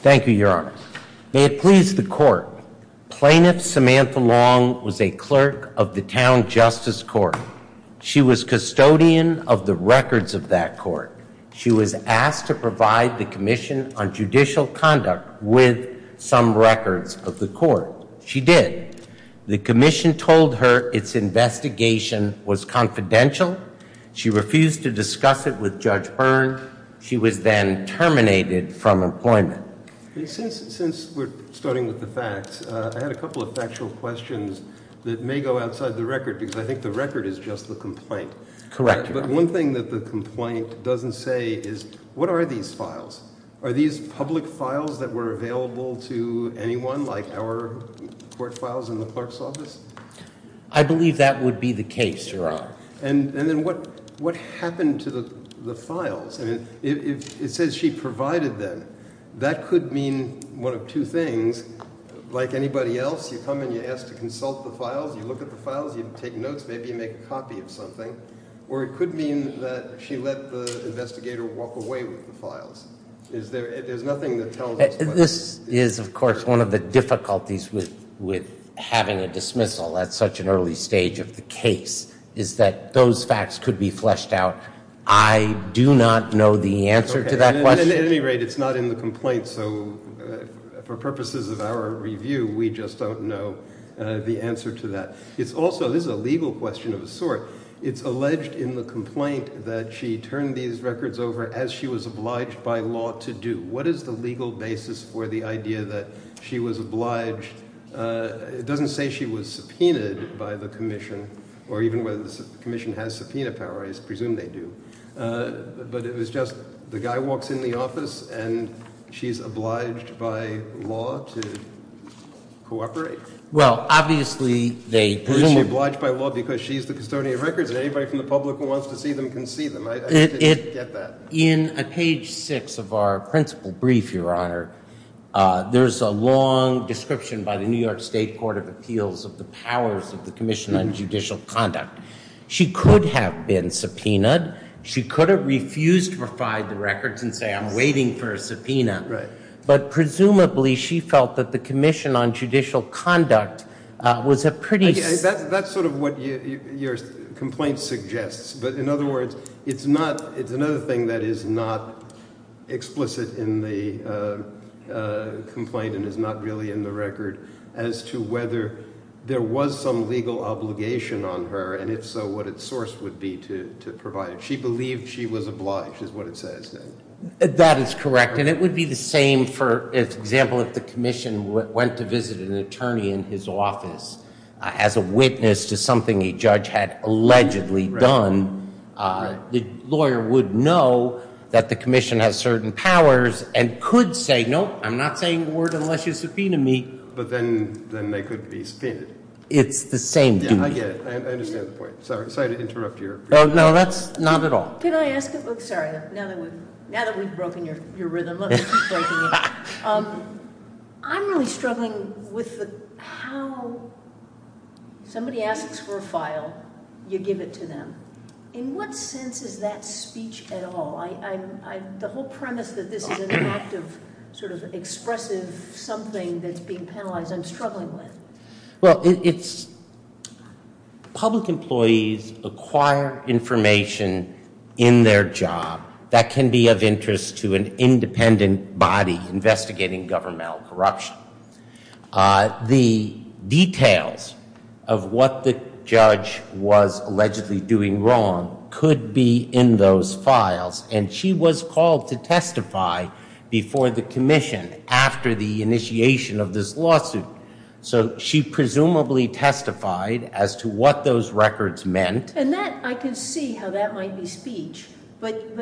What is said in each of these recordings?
Thank you, Your Honor. May it please the court, Plaintiff Samantha Long was a clerk of the Town Justice Court. She was custodian of the records of that court. She was asked to provide the Commission on Judicial Conduct with some records of the court. She did. The Commission told her its investigation was confidential. She refused to discuss it with Judge Byrne. She was then terminated from employment. Since we're starting with the facts, I had a couple of factual questions that may go outside the record because I think the record is just the complaint. Correct. But one thing that the complaint doesn't say is what are these files? Are these public files that were available to anyone like our court files in the clerk's office? I believe that would be the case, Your Honor. And then what happened to the files? It says she provided them. That could mean one of two things. Like anybody else, you come and you ask to consult the files, you look at the files, you take notes, maybe you make a copy of something. Or it could mean that she let the investigator walk away with the files. There's nothing that tells us. This is, of course, one of the difficulties with having a dismissal at such an early stage of the case, is that those facts could be fleshed out. I do not know the answer to that question. At any rate, it's not in the complaint, so for purposes of our review, we just don't know the answer to that. It's also, this is a legal question of a sort, it's alleged in the complaint that she turned these records over as she was obliged by law to do. What is the legal basis for the idea that she was obliged? It doesn't say she was subpoenaed by the commission, or even whether the commission has subpoena power. I presume they do. But it was just, the guy walks in the office, and she's obliged by law to cooperate? Well, obviously, they presume. She's obliged by law because she's the custodian of records, and anybody from the public who wants to see them can see them. I didn't get that. In page six of our principal brief, Your Honor, there's a long description by the New York State Court of Appeals of the powers of the Commission on Judicial Conduct. She could have been subpoenaed. She could have refused to provide the records and say, I'm waiting for a subpoena. But presumably, she felt that the Commission on Judicial Conduct was a pretty That's sort of what your complaint suggests. But in other words, it's not, it's another thing that is not explicit in the complaint and is not really in the record as to whether there was some legal obligation on her, and if so, what its source would be to provide it. She believed she was obliged, is what it says. That is correct. And it would be the same, for example, if the Commission went to visit an attorney in his office as a witness to something a judge had allegedly done, the lawyer would know that the Commission has certain powers and could say, nope, I'm not saying a word unless you subpoena me. But then they could be subpoenaed. It's the same duty. I get it. I understand the point. Sorry to interrupt you. No, that's not at all. Can I ask a, sorry, now that we've broken your rhythm, let's keep breaking it. I'm really struggling with how somebody asks for a file, you give it to them. In what sense is that speech at all? The whole premise that this is an act of sort of expressive something that's being penalized, I'm struggling with. Well, it's, public employees acquire information in their job that can be of interest to an independent body investigating governmental corruption. The details of what the judge was allegedly doing wrong could be in those files, and she was called to testify before the Commission after the initiation of this lawsuit. So she presumably testified as to what those records meant. And that, I can see how that might be speech, but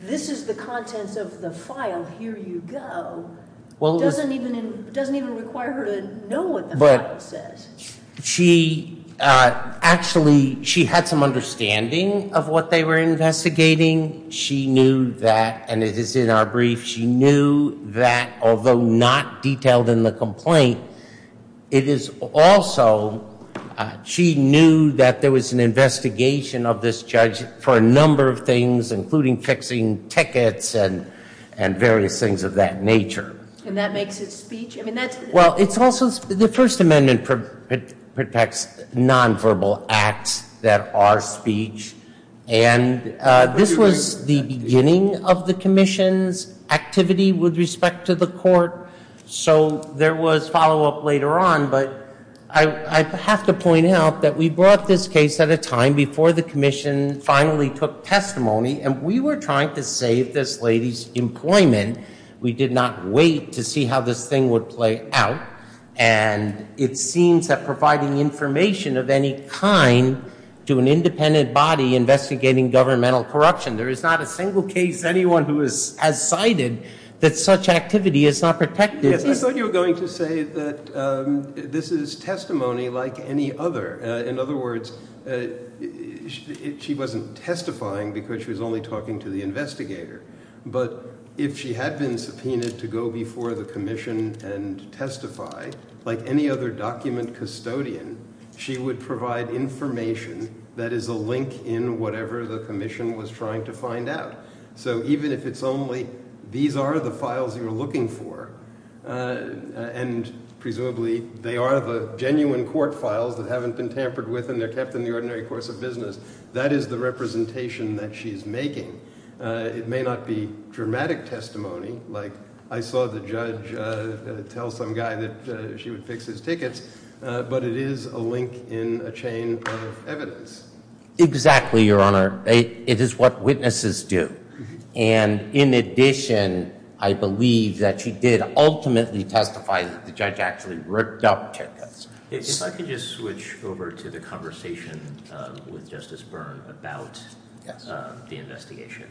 this is the contents of the file, here you go, doesn't even require her to know what the file says. Actually, she had some understanding of what they were investigating. She knew that, and it is in our brief, she knew that, although not detailed in the complaint, it is also, she knew that there was an investigation of this judge for a number of things, including fixing tickets and various things of that nature. And that makes it speech? Well, it's also, the First Amendment protects nonverbal acts that are speech, and this was the beginning of the Commission's activity with respect to the Court, so there was follow-up later on, but I have to point out that we brought this case at a time before the Commission finally took testimony, and we were trying to save this lady's employment. We did not wait to see how this thing would play out, and it seems that providing information of any kind to an independent body investigating governmental corruption, there is not a single case anyone who has cited that such activity is not protected. Yes, I thought you were going to say that this is testimony like any other. In other words, she wasn't testifying because she was only talking to the investigator, but if she had been subpoenaed to go before the Commission and testify, like any other document custodian, she would provide information that is a link in whatever the Commission was trying to find out. So even if it's only, these are the files you're looking for, and presumably they are the genuine court files that haven't been tampered with and they're kept in the ordinary course of business, that is the representation that she's making. It may not be dramatic testimony, like I saw the judge tell some guy that she would fix his tickets, but it is a link in a chain of evidence. Exactly, Your Honor. It is what witnesses do. And in addition, I believe that she did ultimately testify that the judge actually ripped up tickets. If I could just switch over to the conversation with Justice Byrne about the investigation.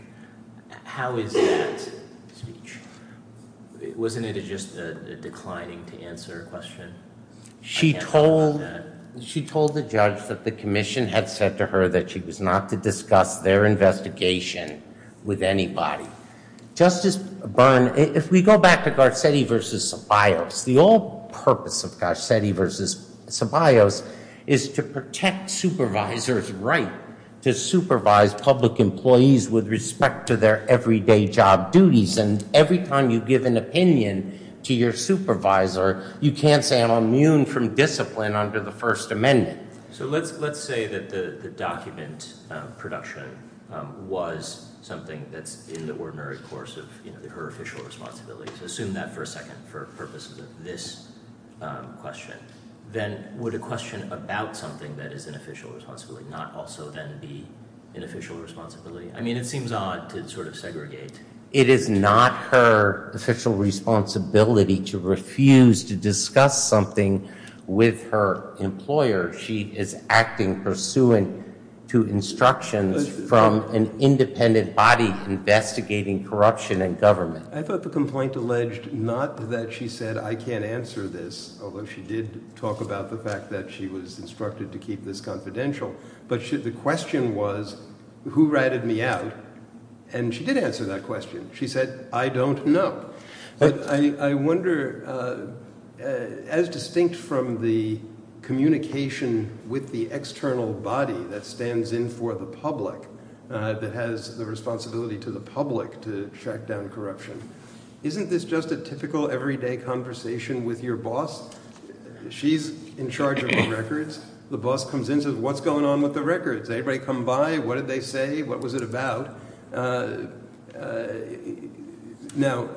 How is that speech? Wasn't it just a declining to answer question? She told the judge that the Commission had said to her that she was not to discuss their investigation with anybody. Justice Byrne, if we go back to Garcetti v. Ceballos, the whole purpose of Garcetti v. Ceballos is to protect supervisors' right to supervise public employees with respect to their everyday job duties, and every time you give an opinion to your supervisor, you can't say I'm immune from discipline under the First Amendment. So let's say that the document production was something that's in the ordinary course of her official responsibility. So assume that for a second for purposes of this question. Then would a question about something that is an official responsibility not also then be an official responsibility? I mean, it seems odd to sort of segregate. It is not her official responsibility to refuse to discuss something with her employer. She is acting pursuant to instructions from an independent body investigating corruption in government. I thought the complaint alleged not that she said I can't answer this, although she did talk about the fact that she was instructed to keep this confidential. But the question was who ratted me out? And she did answer that question. She said, I don't know. I wonder, as distinct from the communication with the external body that stands in for the public, that has the responsibility to the public to track down corruption, isn't this just a typical everyday conversation with your boss? She's in charge of the records. The boss comes in and says, what's going on with the records? Anybody come by? What did they say? What was it about? Now,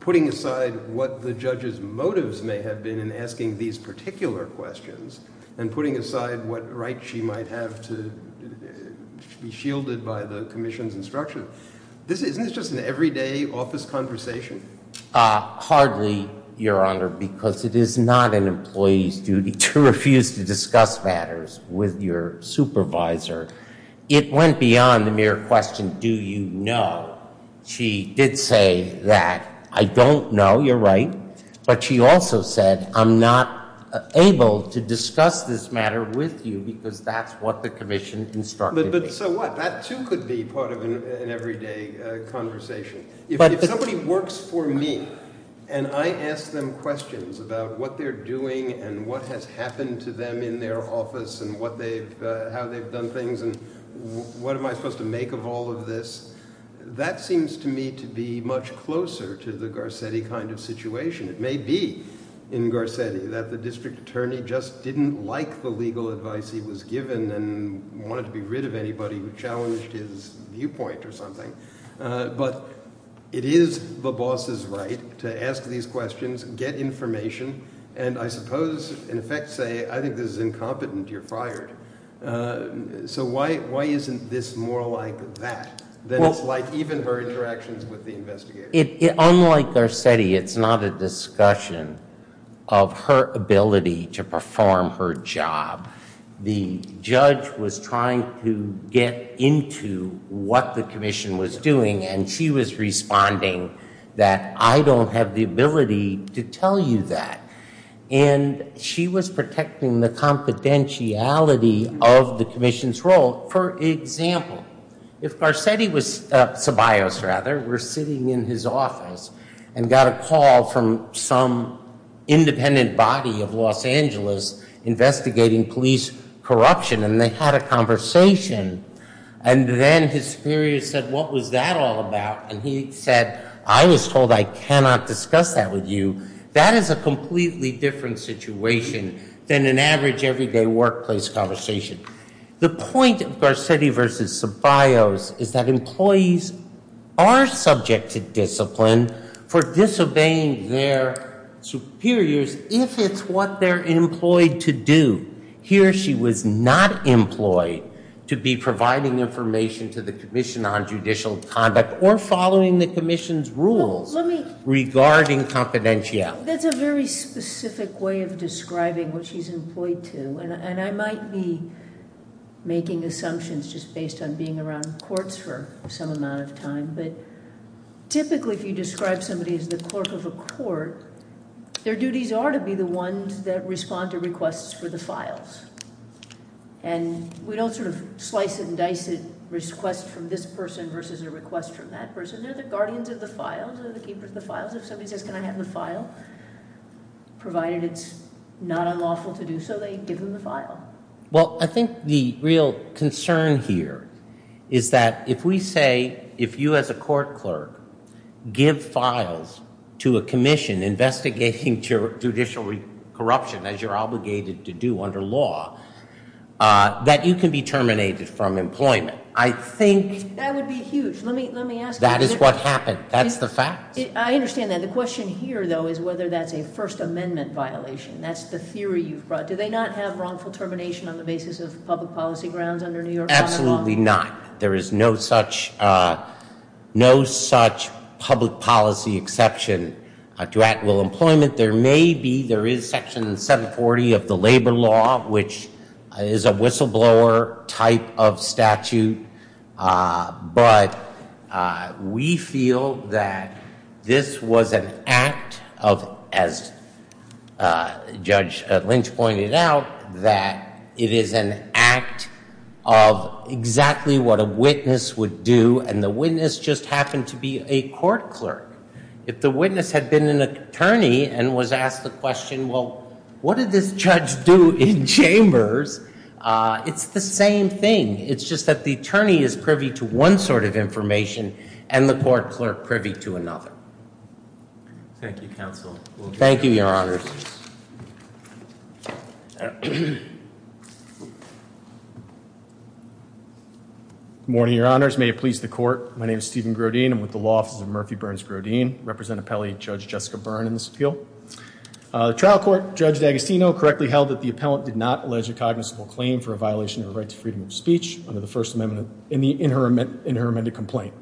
putting aside what the judge's motives may have been in asking these particular questions and putting aside what right she might have to be shielded by the commission's instruction, isn't this just an everyday office conversation? Hardly, Your Honor, because it is not an employee's duty to refuse to discuss matters with your supervisor. It went beyond the mere question, do you know? She did say that, I don't know, you're right. But she also said, I'm not able to discuss this matter with you because that's what the commission instructed me. So what? That too could be part of an everyday conversation. If somebody works for me and I ask them questions about what they're doing and what has happened to them in their office and how they've done things and what am I supposed to make of all of this, that seems to me to be much closer to the Garcetti kind of situation. It may be, in Garcetti, that the district attorney just didn't like the legal advice he was given and wanted to be rid of anybody who challenged his viewpoint or something. But it is the boss's right to ask these questions, get information, and I suppose in effect say, I think this is incompetent, you're fired. So why isn't this more like that than it's like even her interactions with the investigators? Unlike Garcetti, it's not a discussion of her ability to perform her job. The judge was trying to get into what the commission was doing and she was responding that I don't have the ability to tell you that. And she was protecting the confidentiality of the commission's role. For example, if Garcetti was, Ceballos rather, were sitting in his office and got a call from some independent body of Los Angeles investigating police corruption and they had a conversation. And then his superior said, what was that all about? And he said, I was told I cannot discuss that with you. That is a completely different situation than an average everyday workplace conversation. The point of Garcetti versus Ceballos is that employees are subject to discipline for disobeying their superiors if it's what they're employed to do. Here she was not employed to be providing information to the commission on judicial conduct or following the commission's rules regarding confidentiality. That's a very specific way of describing what she's employed to. And I might be making assumptions just based on being around courts for some amount of time. But typically if you describe somebody as the clerk of a court, their duties are to be the ones that respond to requests for the files. And we don't sort of slice and dice it, request from this person versus a request from that person. They're the guardians of the files, they're the keepers of the files. If somebody says, can I have the file? Provided it's not unlawful to do so, they give them the file. Well I think the real concern here is that if we say, if you as a court clerk give files to a commission investigating judicial corruption as you're obligated to do under law, that you can be terminated from employment. I think that would be huge. Let me ask you. That is what happened. That's the fact. I understand that. The question here, though, is whether that's a First Amendment violation. That's the theory you've brought. Do they not have wrongful termination on the basis of public policy grounds under New York Common Law? Absolutely not. There is no such public policy exception to actual employment. There may be, there is section 740 of the labor law, which is a whistleblower type of statute. But we feel that this was an act of, as Judge Lynch pointed out, that it is an act of exactly what a witness would do, and the witness just happened to be a court clerk. If the witness had been an attorney and was asked the question, well, what did this judge do in chambers? It's the same thing. It's just that the attorney is privy to one sort of information and the court clerk privy to another. Thank you, counsel. Thank you, Your Honors. Good morning, Your Honors. May it please the Court. My name is Steven Grodin. I'm with the Law Office of Murphy Burns Grodin. I represent Appellee Judge Jessica Byrne in this appeal. The trial court, Judge D'Agostino, correctly held that the appellant did not allege a cognizant claim for a violation of the right to freedom of speech under the First Amendment in her amended complaint.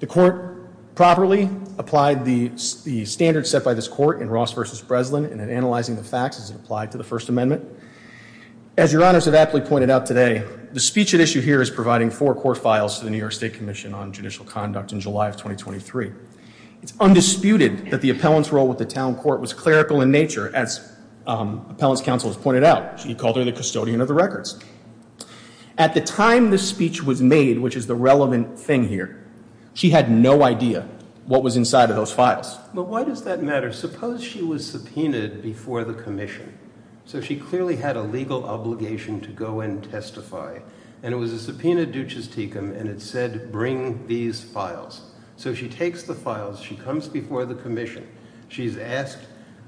The court properly applied the standards set by this court in Ross v. Breslin and in analyzing the facts as it applied to the First Amendment. As Your Honors have aptly pointed out today, the speech at issue here is providing four court files to the New York State Commission on Judicial Conduct in July of 2023. It's undisputed that the appellant's role with the town court was clerical in nature, as appellant's counsel has pointed out. She called her the custodian of the records. At the time this speech was made, which is the relevant thing here, she had no idea what was inside of those files. But why does that matter? Suppose she was subpoenaed before the commission. So she clearly had a legal obligation to go and testify. And it was a subpoenaed and it said, bring these files. So she takes the files, she comes before the commission, she's asked,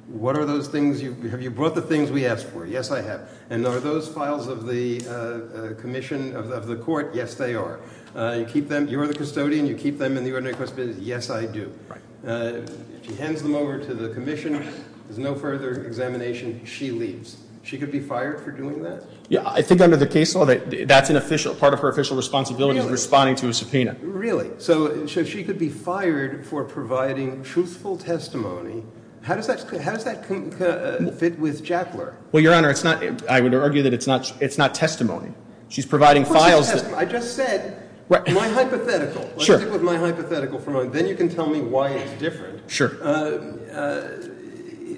what are those things, have you brought the things we asked for? Yes, I have. And are those files of the commission, of the court? Yes, they are. You keep them, you're the custodian, you keep them in the ordinary correspondence? Yes, I do. She hands them over to the commission, there's no further examination, she leaves. She could be fired for doing that? I think under the case law, that's part of her official responsibility, responding to a subpoena. Really? So she could be fired for providing truthful testimony. How does that fit with Jackler? Well, Your Honor, I would argue that it's not testimony. Of course it's testimony. I just said, my hypothetical. Sure. Then you can tell me why it's different. Sure.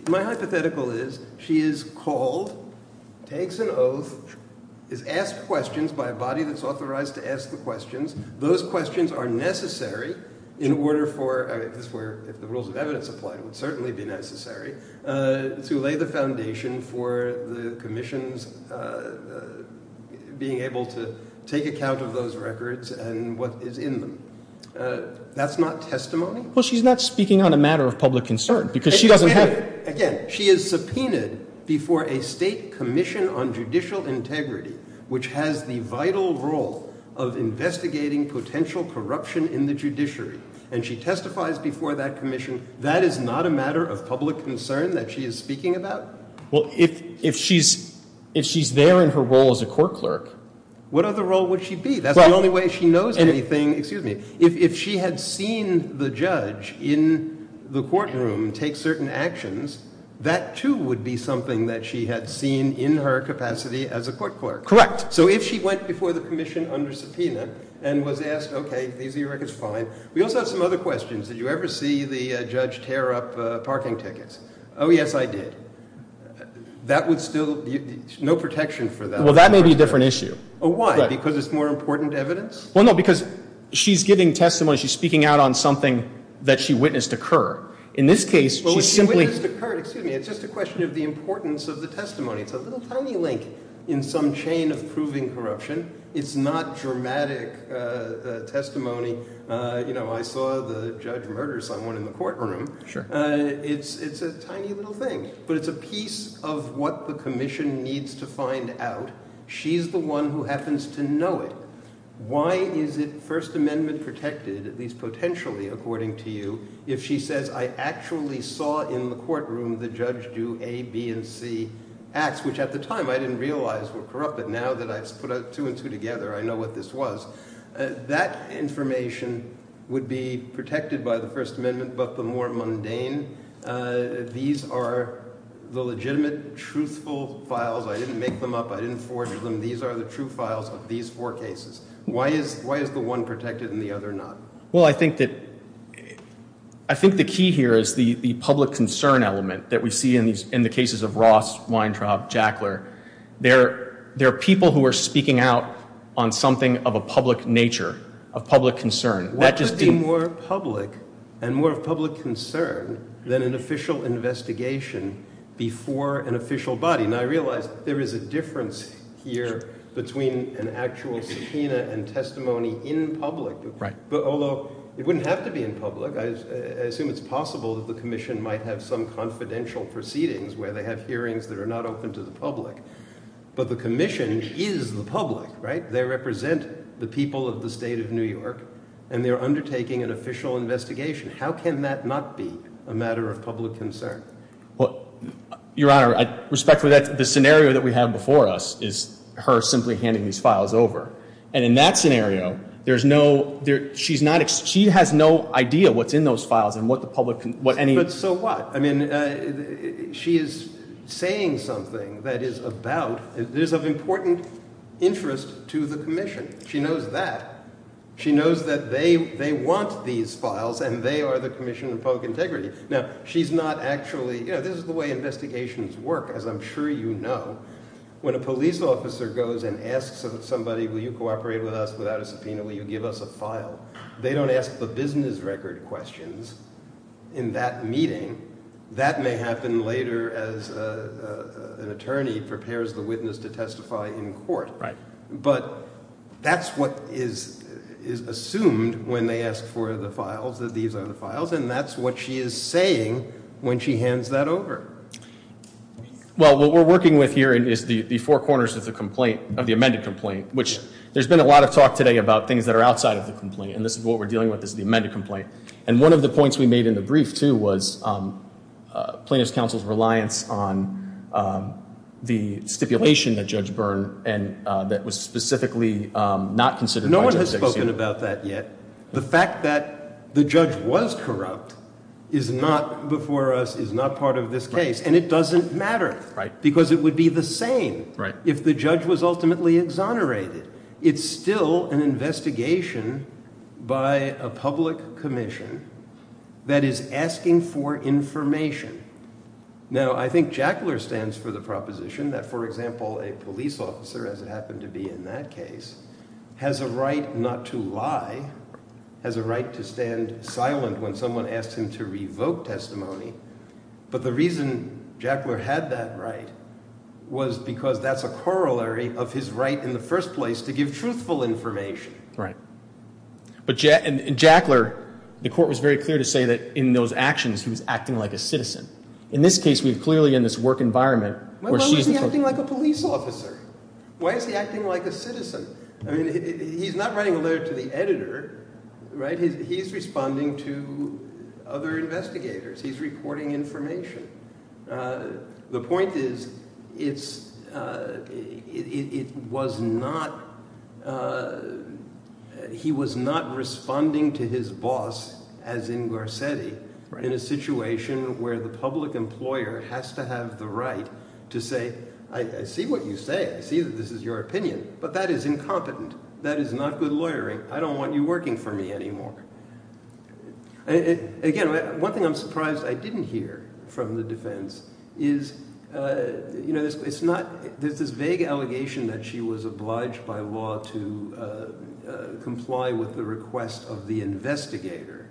My hypothetical is, she is called, takes an oath, is asked questions by a body that's authorized to ask the questions. Those questions are necessary in order for, if the rules of evidence apply, it would certainly be necessary, to lay the foundation for the commissions being able to take account of those records and what is in them. That's not testimony? Well, she's not speaking on a matter of public concern, because she doesn't have... Again, she is subpoenaed before a state commission on judicial integrity, which has the vital role of investigating potential corruption in the judiciary, and she testifies before that commission. That is not a matter of public concern that she is speaking about? Well, if she's there in her role as a court clerk... What other role would she be? That's the only way she knows anything. Excuse me. If she had seen the judge in the courtroom take certain actions, that, too, would be something that she had seen in her capacity as a court clerk. Correct. So if she went before the commission under subpoena and was asked, okay, these are your records, fine. We also have some other questions. Did you ever see the judge tear up parking tickets? Oh, yes, I did. That would still be, no protection for that. Well, that may be a different issue. Oh, why? Because it's more important evidence? Well, no, because she's giving testimony, she's speaking out on something that she witnessed occur. In this case, she simply... Well, if she witnessed occur, excuse me, it's just a question of the importance of the testimony. It's a little tiny link in some chain of proving corruption. It's not dramatic testimony. You know, I saw the judge murder someone in the courtroom. Sure. It's a tiny little thing, but it's a piece of what the commission needs to find out. She's the one who happens to know it. Why is it First Amendment protected, at least potentially, according to you, if she says, I actually saw in the courtroom the judge do A, B, and C acts, which at the time I didn't realize were corrupt, but now that I've put two and two together, I know what this was. That information would be protected by the First Amendment, but the more mundane. These are the legitimate, truthful files. I didn't make them up. I didn't forge them. These are the true files of these four cases. Why is the one protected and the other not? Well, I think the key here is the public concern element that we see in the cases of Ross, Weintraub, Jackler. They're people who are speaking out on something of a public nature, of public concern. What could be more public and more of public concern than an official investigation before an official body? And I realize there is a difference here between an actual subpoena and testimony in public. But although it wouldn't have to be in public. I assume it's possible that the commission might have some confidential proceedings where they have hearings that are not open to the public. But the commission is the public, right? They represent the people of the state of New York, and they're undertaking an official investigation. How can that not be a matter of public concern? Your Honor, respectfully, the scenario that we have before us is her simply handing these files over. And in that scenario, there's no – she has no idea what's in those files and what the public – But so what? I mean, she is saying something that is about – that is of important interest to the commission. She knows that. She knows that they want these files, and they are the commission of public integrity. Now, she's not actually – this is the way investigations work, as I'm sure you know. When a police officer goes and asks somebody, will you cooperate with us without a subpoena? Will you give us a file? They don't ask the business record questions in that meeting. That may happen later as an attorney prepares the witness to testify in court. But that's what is assumed when they ask for the files, that these are the files. And that's what she is saying when she hands that over. Well, what we're working with here is the four corners of the complaint – of the amended complaint, which there's been a lot of talk today about things that are outside of the complaint. And this is what we're dealing with is the amended complaint. And one of the points we made in the brief, too, was Plaintiff's counsel's reliance on the stipulation that Judge Byrne – and that was specifically not considered by Judge Dixon. No one has spoken about that yet. The fact that the judge was corrupt is not before us, is not part of this case. And it doesn't matter because it would be the same if the judge was ultimately exonerated. It's still an investigation by a public commission that is asking for information. Now, I think Jackler stands for the proposition that, for example, a police officer, as it happened to be in that case, has a right not to lie, has a right to stand silent when someone asks him to revoke testimony. But the reason Jackler had that right was because that's a corollary of his right in the first place to give truthful information. Right. But in Jackler, the court was very clear to say that in those actions he was acting like a citizen. In this case, we're clearly in this work environment where she's the – Why is he acting like a citizen? I mean, he's not writing a letter to the editor, right? He's responding to other investigators. He's reporting information. The point is it's – it was not – he was not responding to his boss as in Garcetti in a situation where the public employer has to have the right to say, I see what you say. I see that this is your opinion, but that is incompetent. That is not good lawyering. I don't want you working for me anymore. Again, one thing I'm surprised I didn't hear from the defense is it's not – there's this vague allegation that she was obliged by law to comply with the request of the investigator,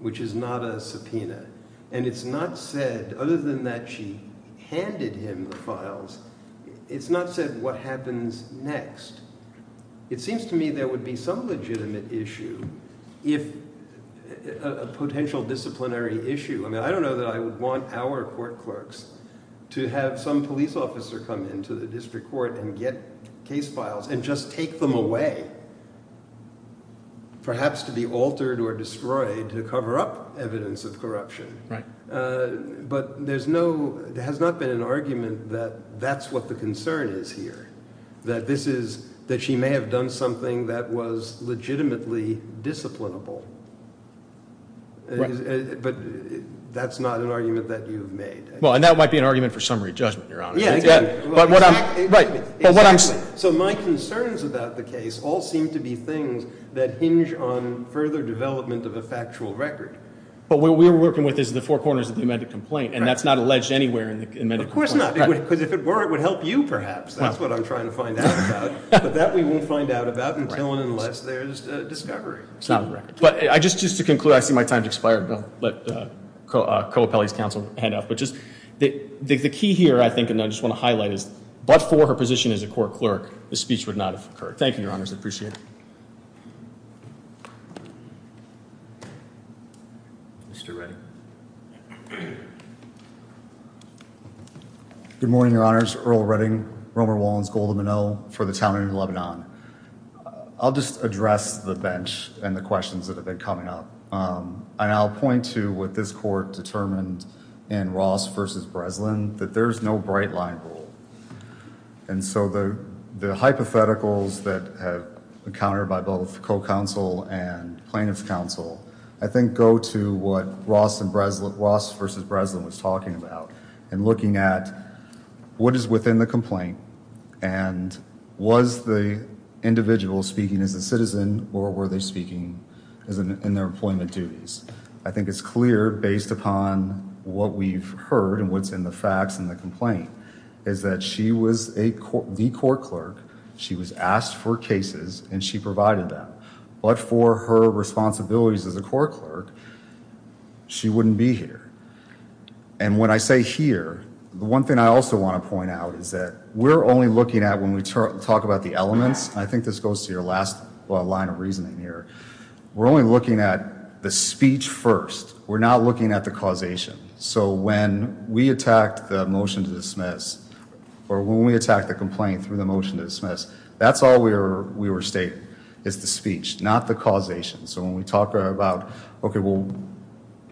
which is not a subpoena. And it's not said – other than that she handed him the files, it's not said what happens next. It seems to me there would be some legitimate issue if – a potential disciplinary issue. I mean I don't know that I would want our court clerks to have some police officer come into the district court and get case files and just take them away, perhaps to be altered or destroyed to cover up evidence of corruption. But there's no – there has not been an argument that that's what the concern is here. That this is – that she may have done something that was legitimately disciplinable. But that's not an argument that you've made. Well, and that might be an argument for summary judgment, Your Honor. Exactly. So my concerns about the case all seem to be things that hinge on further development of a factual record. But what we're working with is the four corners of the amended complaint, and that's not alleged anywhere in the amended complaint. Of course not. Because if it were, it would help you perhaps. That's what I'm trying to find out about. But that we won't find out about until and unless there's a discovery. It's not on the record. But just to conclude, I see my time has expired. I'll let Kohopelli's counsel hand off. But just – the key here I think, and I just want to highlight is, but for her position as a court clerk, this speech would not have occurred. Thank you, Your Honors. I appreciate it. Mr. Redding. Good morning, Your Honors. Earl Redding, Romer, Wallins, Goldman, O for the Town of Lebanon. I'll just address the bench and the questions that have been coming up. And I'll point to what this court determined in Ross v. Breslin, that there's no bright-line rule. And so the hypotheticals that have been countered by both co-counsel and plaintiff's counsel, I think go to what Ross v. Breslin was talking about in looking at what is within the complaint and was the individual speaking as a citizen or were they speaking in their employment duties. I think it's clear based upon what we've heard and what's in the facts in the complaint is that she was the court clerk. She was asked for cases and she provided them. But for her responsibilities as a court clerk, she wouldn't be here. And when I say here, the one thing I also want to point out is that we're only looking at when we talk about the elements. I think this goes to your last line of reasoning here. We're only looking at the speech first. We're not looking at the causation. So when we attacked the motion to dismiss or when we attacked the complaint through the motion to dismiss, that's all we were stating is the speech, not the causation. So when we talk about, okay, well,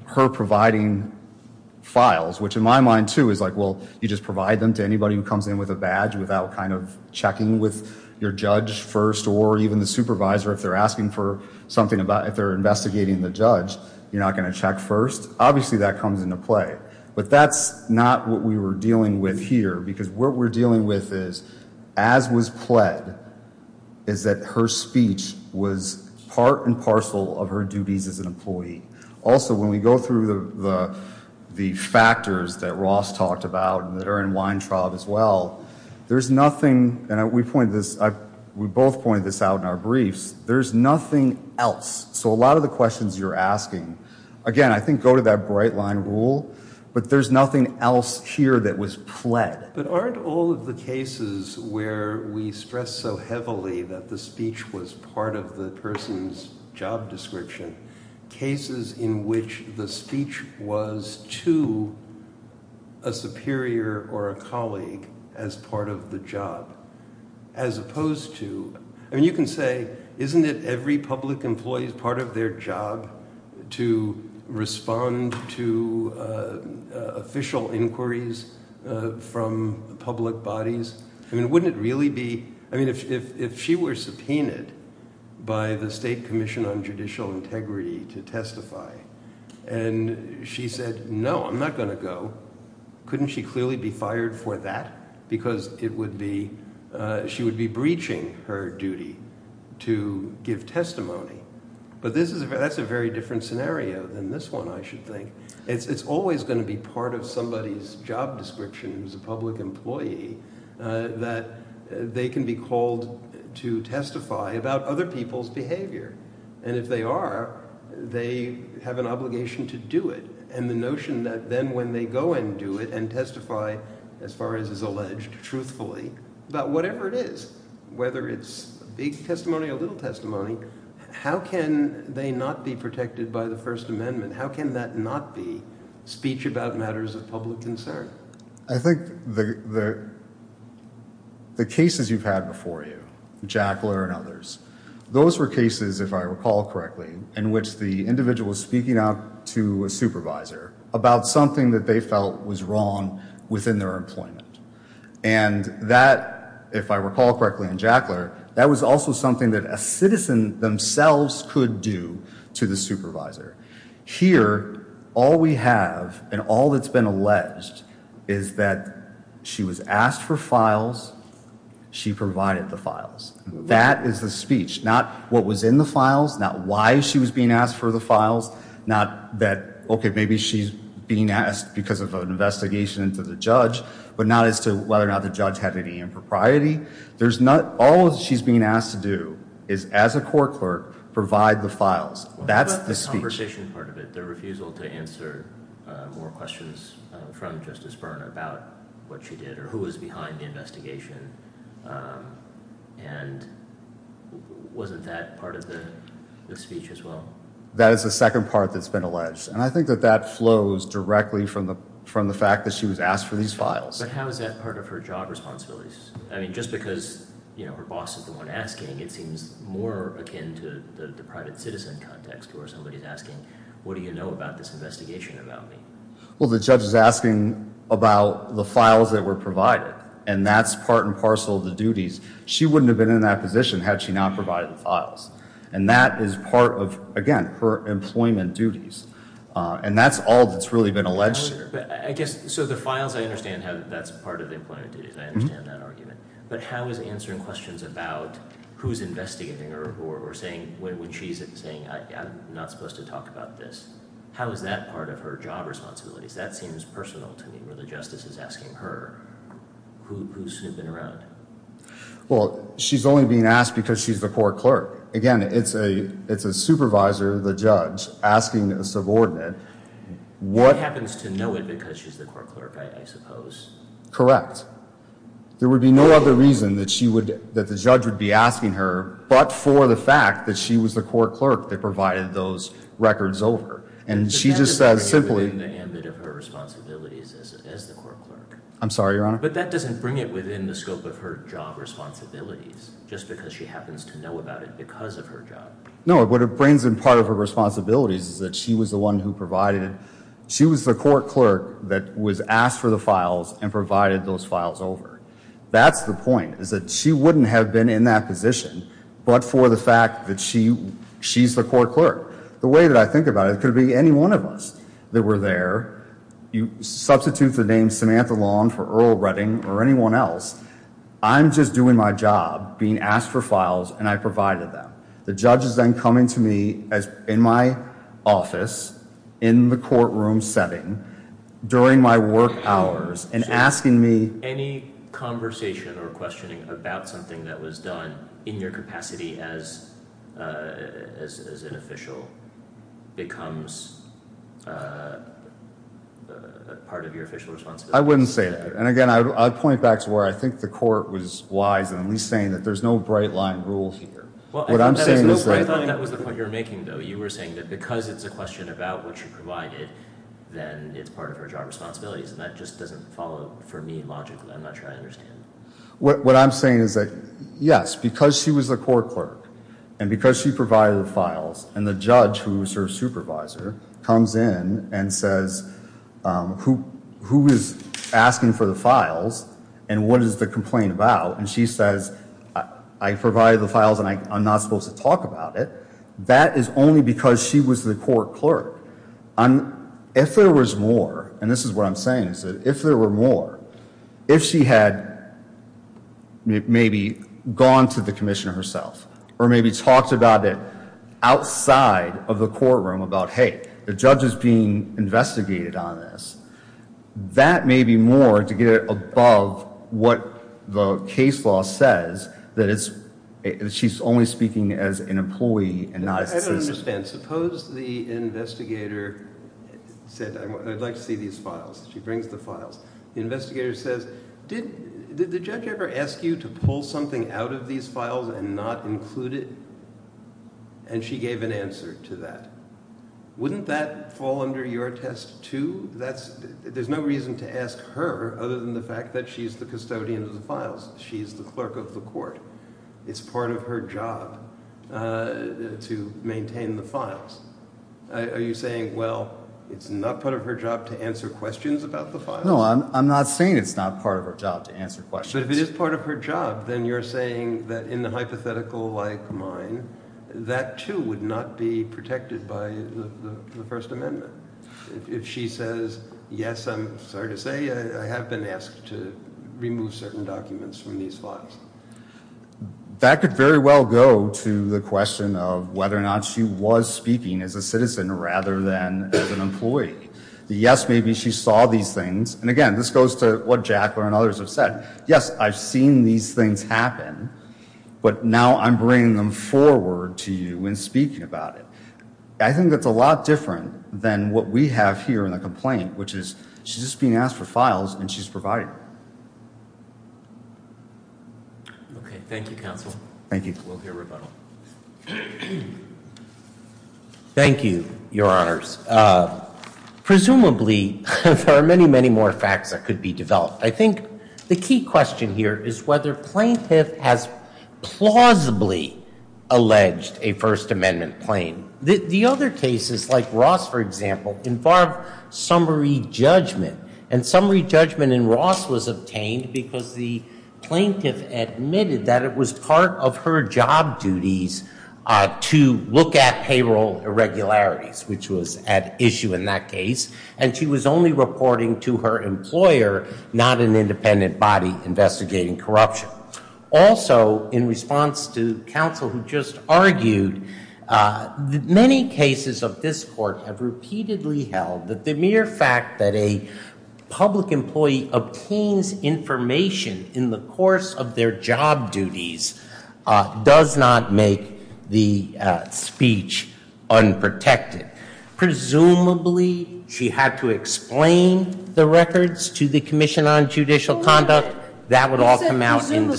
her providing files, which in my mind too is like, well, you just provide them to anybody who comes in with a badge without kind of checking with your judge first or even the supervisor if they're asking for something about, if they're investigating the judge, you're not going to check first. Obviously, that comes into play. But that's not what we were dealing with here because what we're dealing with is, as was pled, is that her speech was part and parcel of her duties as an employee. Also, when we go through the factors that Ross talked about and that are in Weintraub as well, there's nothing, and we both pointed this out in our briefs, there's nothing else. So a lot of the questions you're asking, again, I think go to that bright line rule, but there's nothing else here that was pled. But aren't all of the cases where we stress so heavily that the speech was part of the person's job description, cases in which the speech was to a superior or a colleague as part of the job as opposed to, I mean, you can say, isn't it every public employee's part of their job to respond to official inquiries from public bodies? I mean, wouldn't it really be, I mean, if she were subpoenaed by the State Commission on Judicial Integrity to testify and she said, no, I'm not going to go, couldn't she clearly be fired for that because it would be – she would be breaching her duty to give testimony? But this is – that's a very different scenario than this one, I should think. It's always going to be part of somebody's job description as a public employee that they can be called to testify about other people's behavior. And if they are, they have an obligation to do it. And the notion that then when they go and do it and testify as far as is alleged truthfully about whatever it is, whether it's big testimony or little testimony, how can they not be protected by the First Amendment? How can that not be speech about matters of public concern? I think the cases you've had before you, Jackler and others, those were cases, if I recall correctly, in which the individual was speaking up to a supervisor about something that they felt was wrong within their employment. And that, if I recall correctly in Jackler, that was also something that a citizen themselves could do to the supervisor. Here, all we have and all that's been alleged is that she was asked for files. She provided the files. That is the speech, not what was in the files, not why she was being asked for the files, not that, okay, maybe she's being asked because of an investigation into the judge, but not as to whether or not the judge had any impropriety. There's not – all she's being asked to do is as a court clerk provide the files. That's the speech. What about the conversation part of it, the refusal to answer more questions from Justice Byrne about what she did or who was behind the investigation, and wasn't that part of the speech as well? That is the second part that's been alleged. And I think that that flows directly from the fact that she was asked for these files. But how is that part of her job responsibilities? I mean, just because her boss is the one asking, it seems more akin to the private citizen context where somebody is asking, what do you know about this investigation about me? Well, the judge is asking about the files that were provided, and that's part and parcel of the duties. She wouldn't have been in that position had she not provided the files. And that is part of, again, her employment duties. And that's all that's really been alleged here. So the files, I understand how that's part of the employment duties. I understand that argument. But how is answering questions about who's investigating her or saying when she's saying I'm not supposed to talk about this, how is that part of her job responsibilities? That seems personal to me where the justice is asking her who's snooping around. Well, she's only being asked because she's the court clerk. Again, it's a supervisor, the judge, asking a subordinate. She happens to know it because she's the court clerk, I suppose. There would be no other reason that the judge would be asking her, but for the fact that she was the court clerk that provided those records over. But that doesn't bring it within the ambit of her responsibilities as the court clerk. I'm sorry, Your Honor? But that doesn't bring it within the scope of her job responsibilities, just because she happens to know about it because of her job. No, what it brings in part of her responsibilities is that she was the one who provided it. She was the court clerk that was asked for the files and provided those files over. That's the point, is that she wouldn't have been in that position but for the fact that she's the court clerk. The way that I think about it, it could be any one of us that were there. You substitute the name Samantha Long for Earl Redding or anyone else. I'm just doing my job, being asked for files, and I provided them. The judge is then coming to me in my office, in the courtroom setting, during my work hours, and asking me— Any conversation or questioning about something that was done in your capacity as an official becomes part of your official responsibility? I wouldn't say that. And again, I'd point back to where I think the court was wise in at least saying that there's no bright-line rule here. I thought that was the point you were making, though. You were saying that because it's a question about what you provided, then it's part of her job responsibilities. That just doesn't follow for me logically. I'm not sure I understand. What I'm saying is that, yes, because she was the court clerk and because she provided the files, and the judge, who is her supervisor, comes in and says, who is asking for the files and what is the complaint about? And she says, I provided the files and I'm not supposed to talk about it. That is only because she was the court clerk. If there was more, and this is what I'm saying, is that if there were more, if she had maybe gone to the commissioner herself or maybe talked about it outside of the courtroom about, hey, the judge is being investigated on this, that may be more to get above what the case law says, that she's only speaking as an employee and not a citizen. I don't understand. Suppose the investigator said, I'd like to see these files. She brings the files. The investigator says, did the judge ever ask you to pull something out of these files and not include it? And she gave an answer to that. Wouldn't that fall under your test too? There's no reason to ask her other than the fact that she's the custodian of the files. She's the clerk of the court. It's part of her job to maintain the files. Are you saying, well, it's not part of her job to answer questions about the files? No, I'm not saying it's not part of her job to answer questions. But if it is part of her job, then you're saying that in the hypothetical like mine, that too would not be protected by the First Amendment. If she says, yes, I'm sorry to say, I have been asked to remove certain documents from these files. That could very well go to the question of whether or not she was speaking as a citizen rather than as an employee. Yes, maybe she saw these things. And again, this goes to what Jack and others have said. Yes, I've seen these things happen. But now I'm bringing them forward to you and speaking about it. I think that's a lot different than what we have here in the complaint, which is she's just being asked for files and she's provided. Thank you, counsel. Thank you. We'll hear rebuttal. Thank you, Your Honors. Presumably, there are many, many more facts that could be developed. I think the key question here is whether plaintiff has plausibly alleged a First Amendment claim. The other cases, like Ross, for example, involve summary judgment. And summary judgment in Ross was obtained because the plaintiff admitted that it was part of her job duties to look at payroll irregularities, which was at issue in that case. And she was only reporting to her employer, not an independent body investigating corruption. Also, in response to counsel who just argued, many cases of this court have repeatedly held that the mere fact that a public employee obtains information in the course of their job duties does not make the speech unprotected. Presumably, she had to explain the records to the Commission on Judicial Conduct. Presumably,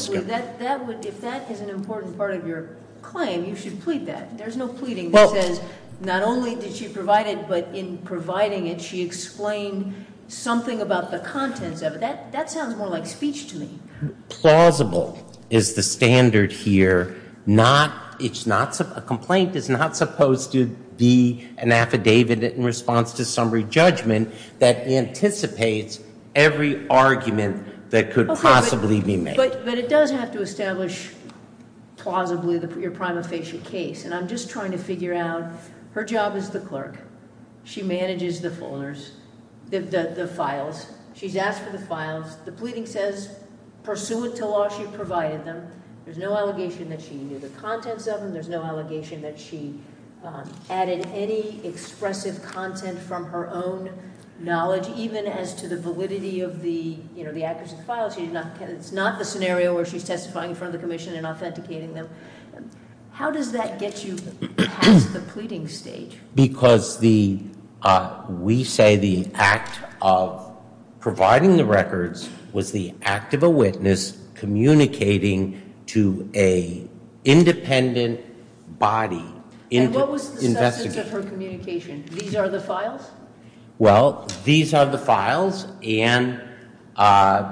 if that is an important part of your claim, you should plead that. There's no pleading that says not only did she provide it, but in providing it, she explained something about the contents of it. That sounds more like speech to me. Plausible is the standard here. A complaint is not supposed to be an affidavit in response to summary judgment that anticipates every argument that could possibly be made. But it does have to establish plausibly your prima facie case. And I'm just trying to figure out her job as the clerk. She manages the folders, the files. She's asked for the files. The pleading says, pursuant to law, she provided them. There's no allegation that she knew the contents of them. There's no allegation that she added any expressive content from her own knowledge, even as to the validity of the accuracy of the files. It's not the scenario where she's testifying in front of the Commission and authenticating them. How does that get you past the pleading stage? Because we say the act of providing the records was the act of a witness communicating to an independent body. And what was the substance of her communication? These are the files? Well, these are the files. And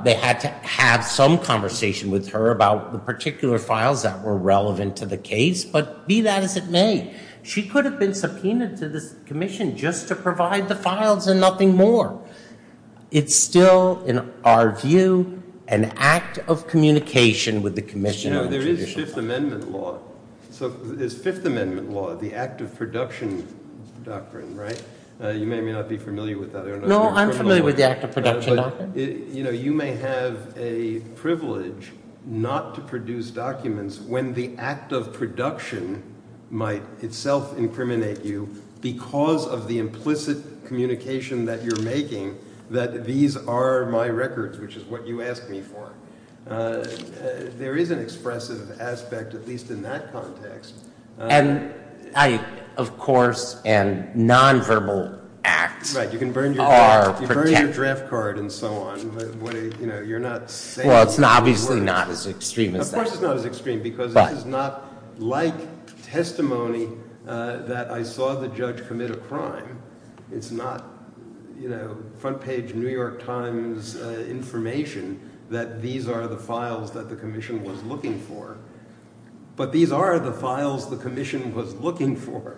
they had to have some conversation with her about the particular files that were relevant to the case. But be that as it may, she could have been subpoenaed. She could have been subpoenaed to this Commission just to provide the files and nothing more. It's still, in our view, an act of communication with the Commission. No, there is Fifth Amendment law. So there's Fifth Amendment law, the act of production doctrine, right? You may or may not be familiar with that. I don't know if you're familiar with it. No, I'm familiar with the act of production doctrine. You know, you may have a privilege not to produce documents when the act of production might itself incriminate you because of the implicit communication that you're making that these are my records, which is what you asked me for. There is an expressive aspect, at least in that context. And I, of course, and nonverbal acts are protected. Right, you can burn your draft card and so on. You're not saying that those were words. Well, it's obviously not as extreme as that. Of course it's not as extreme because this is not like testimony that I saw the judge commit a crime. It's not, you know, front page New York Times information that these are the files that the Commission was looking for. But these are the files the Commission was looking for,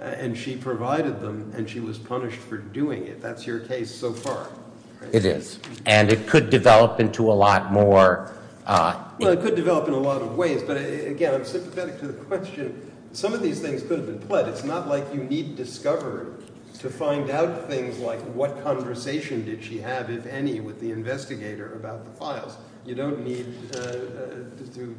and she provided them, and she was punished for doing it. That's your case so far, right? It is, and it could develop into a lot more. Well, it could develop in a lot of ways, but again, I'm sympathetic to the question. Some of these things could have been pled. It's not like you need discovery to find out things like what conversation did she have, if any, with the investigator about the files. You don't need to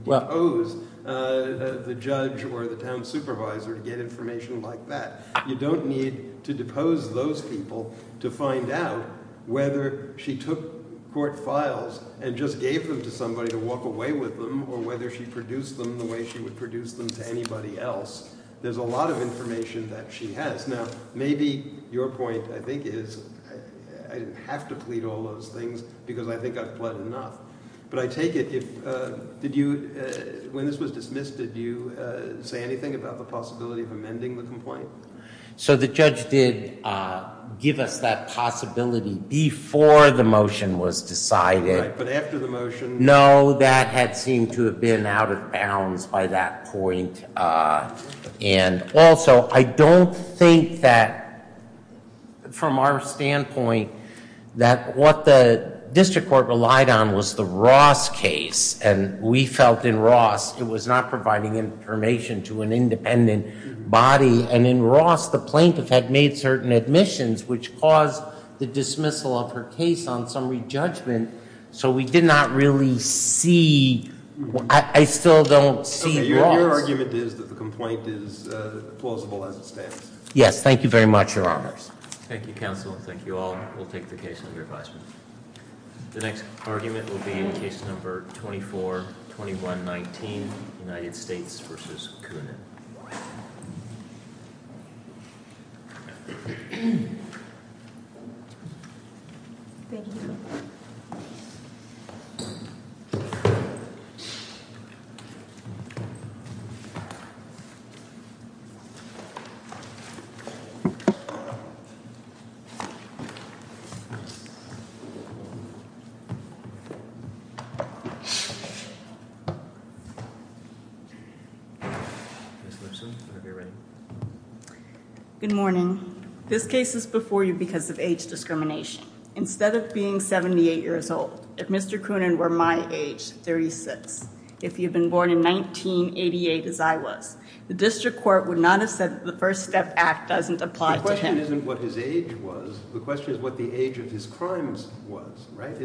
depose the judge or the town supervisor to get information like that. You don't need to depose those people to find out whether she took court files and just gave them to somebody to walk away with them or whether she produced them the way she would produce them to anybody else. There's a lot of information that she has. Now, maybe your point, I think, is I didn't have to plead all those things because I think I've pled enough. But I take it, when this was dismissed, did you say anything about the possibility of amending the complaint? So the judge did give us that possibility before the motion was decided. Right, but after the motion? No, that had seemed to have been out of bounds by that point. And also, I don't think that, from our standpoint, that what the district court relied on was the Ross case. And we felt, in Ross, it was not providing information to an independent body. And in Ross, the plaintiff had made certain admissions which caused the dismissal of her case on summary judgment. So we did not really see, I still don't see Ross. So your argument is that the complaint is plausible as it stands? Yes, thank you very much, Your Honors. Thank you, counsel. Thank you all. We'll take the case under advisement. The next argument will be in case number 242119, United States v. Coonan. Ms. Lipson, are you ready? Good morning. This case is before you because of age discrimination. Instead of being 78 years old, if Mr. Coonan were my age, 36, if he had been born in 1988 as I was, the district court would not have said that the First Step Act doesn't apply to him. The question isn't what his age was. The question is what the age of his crimes was, right?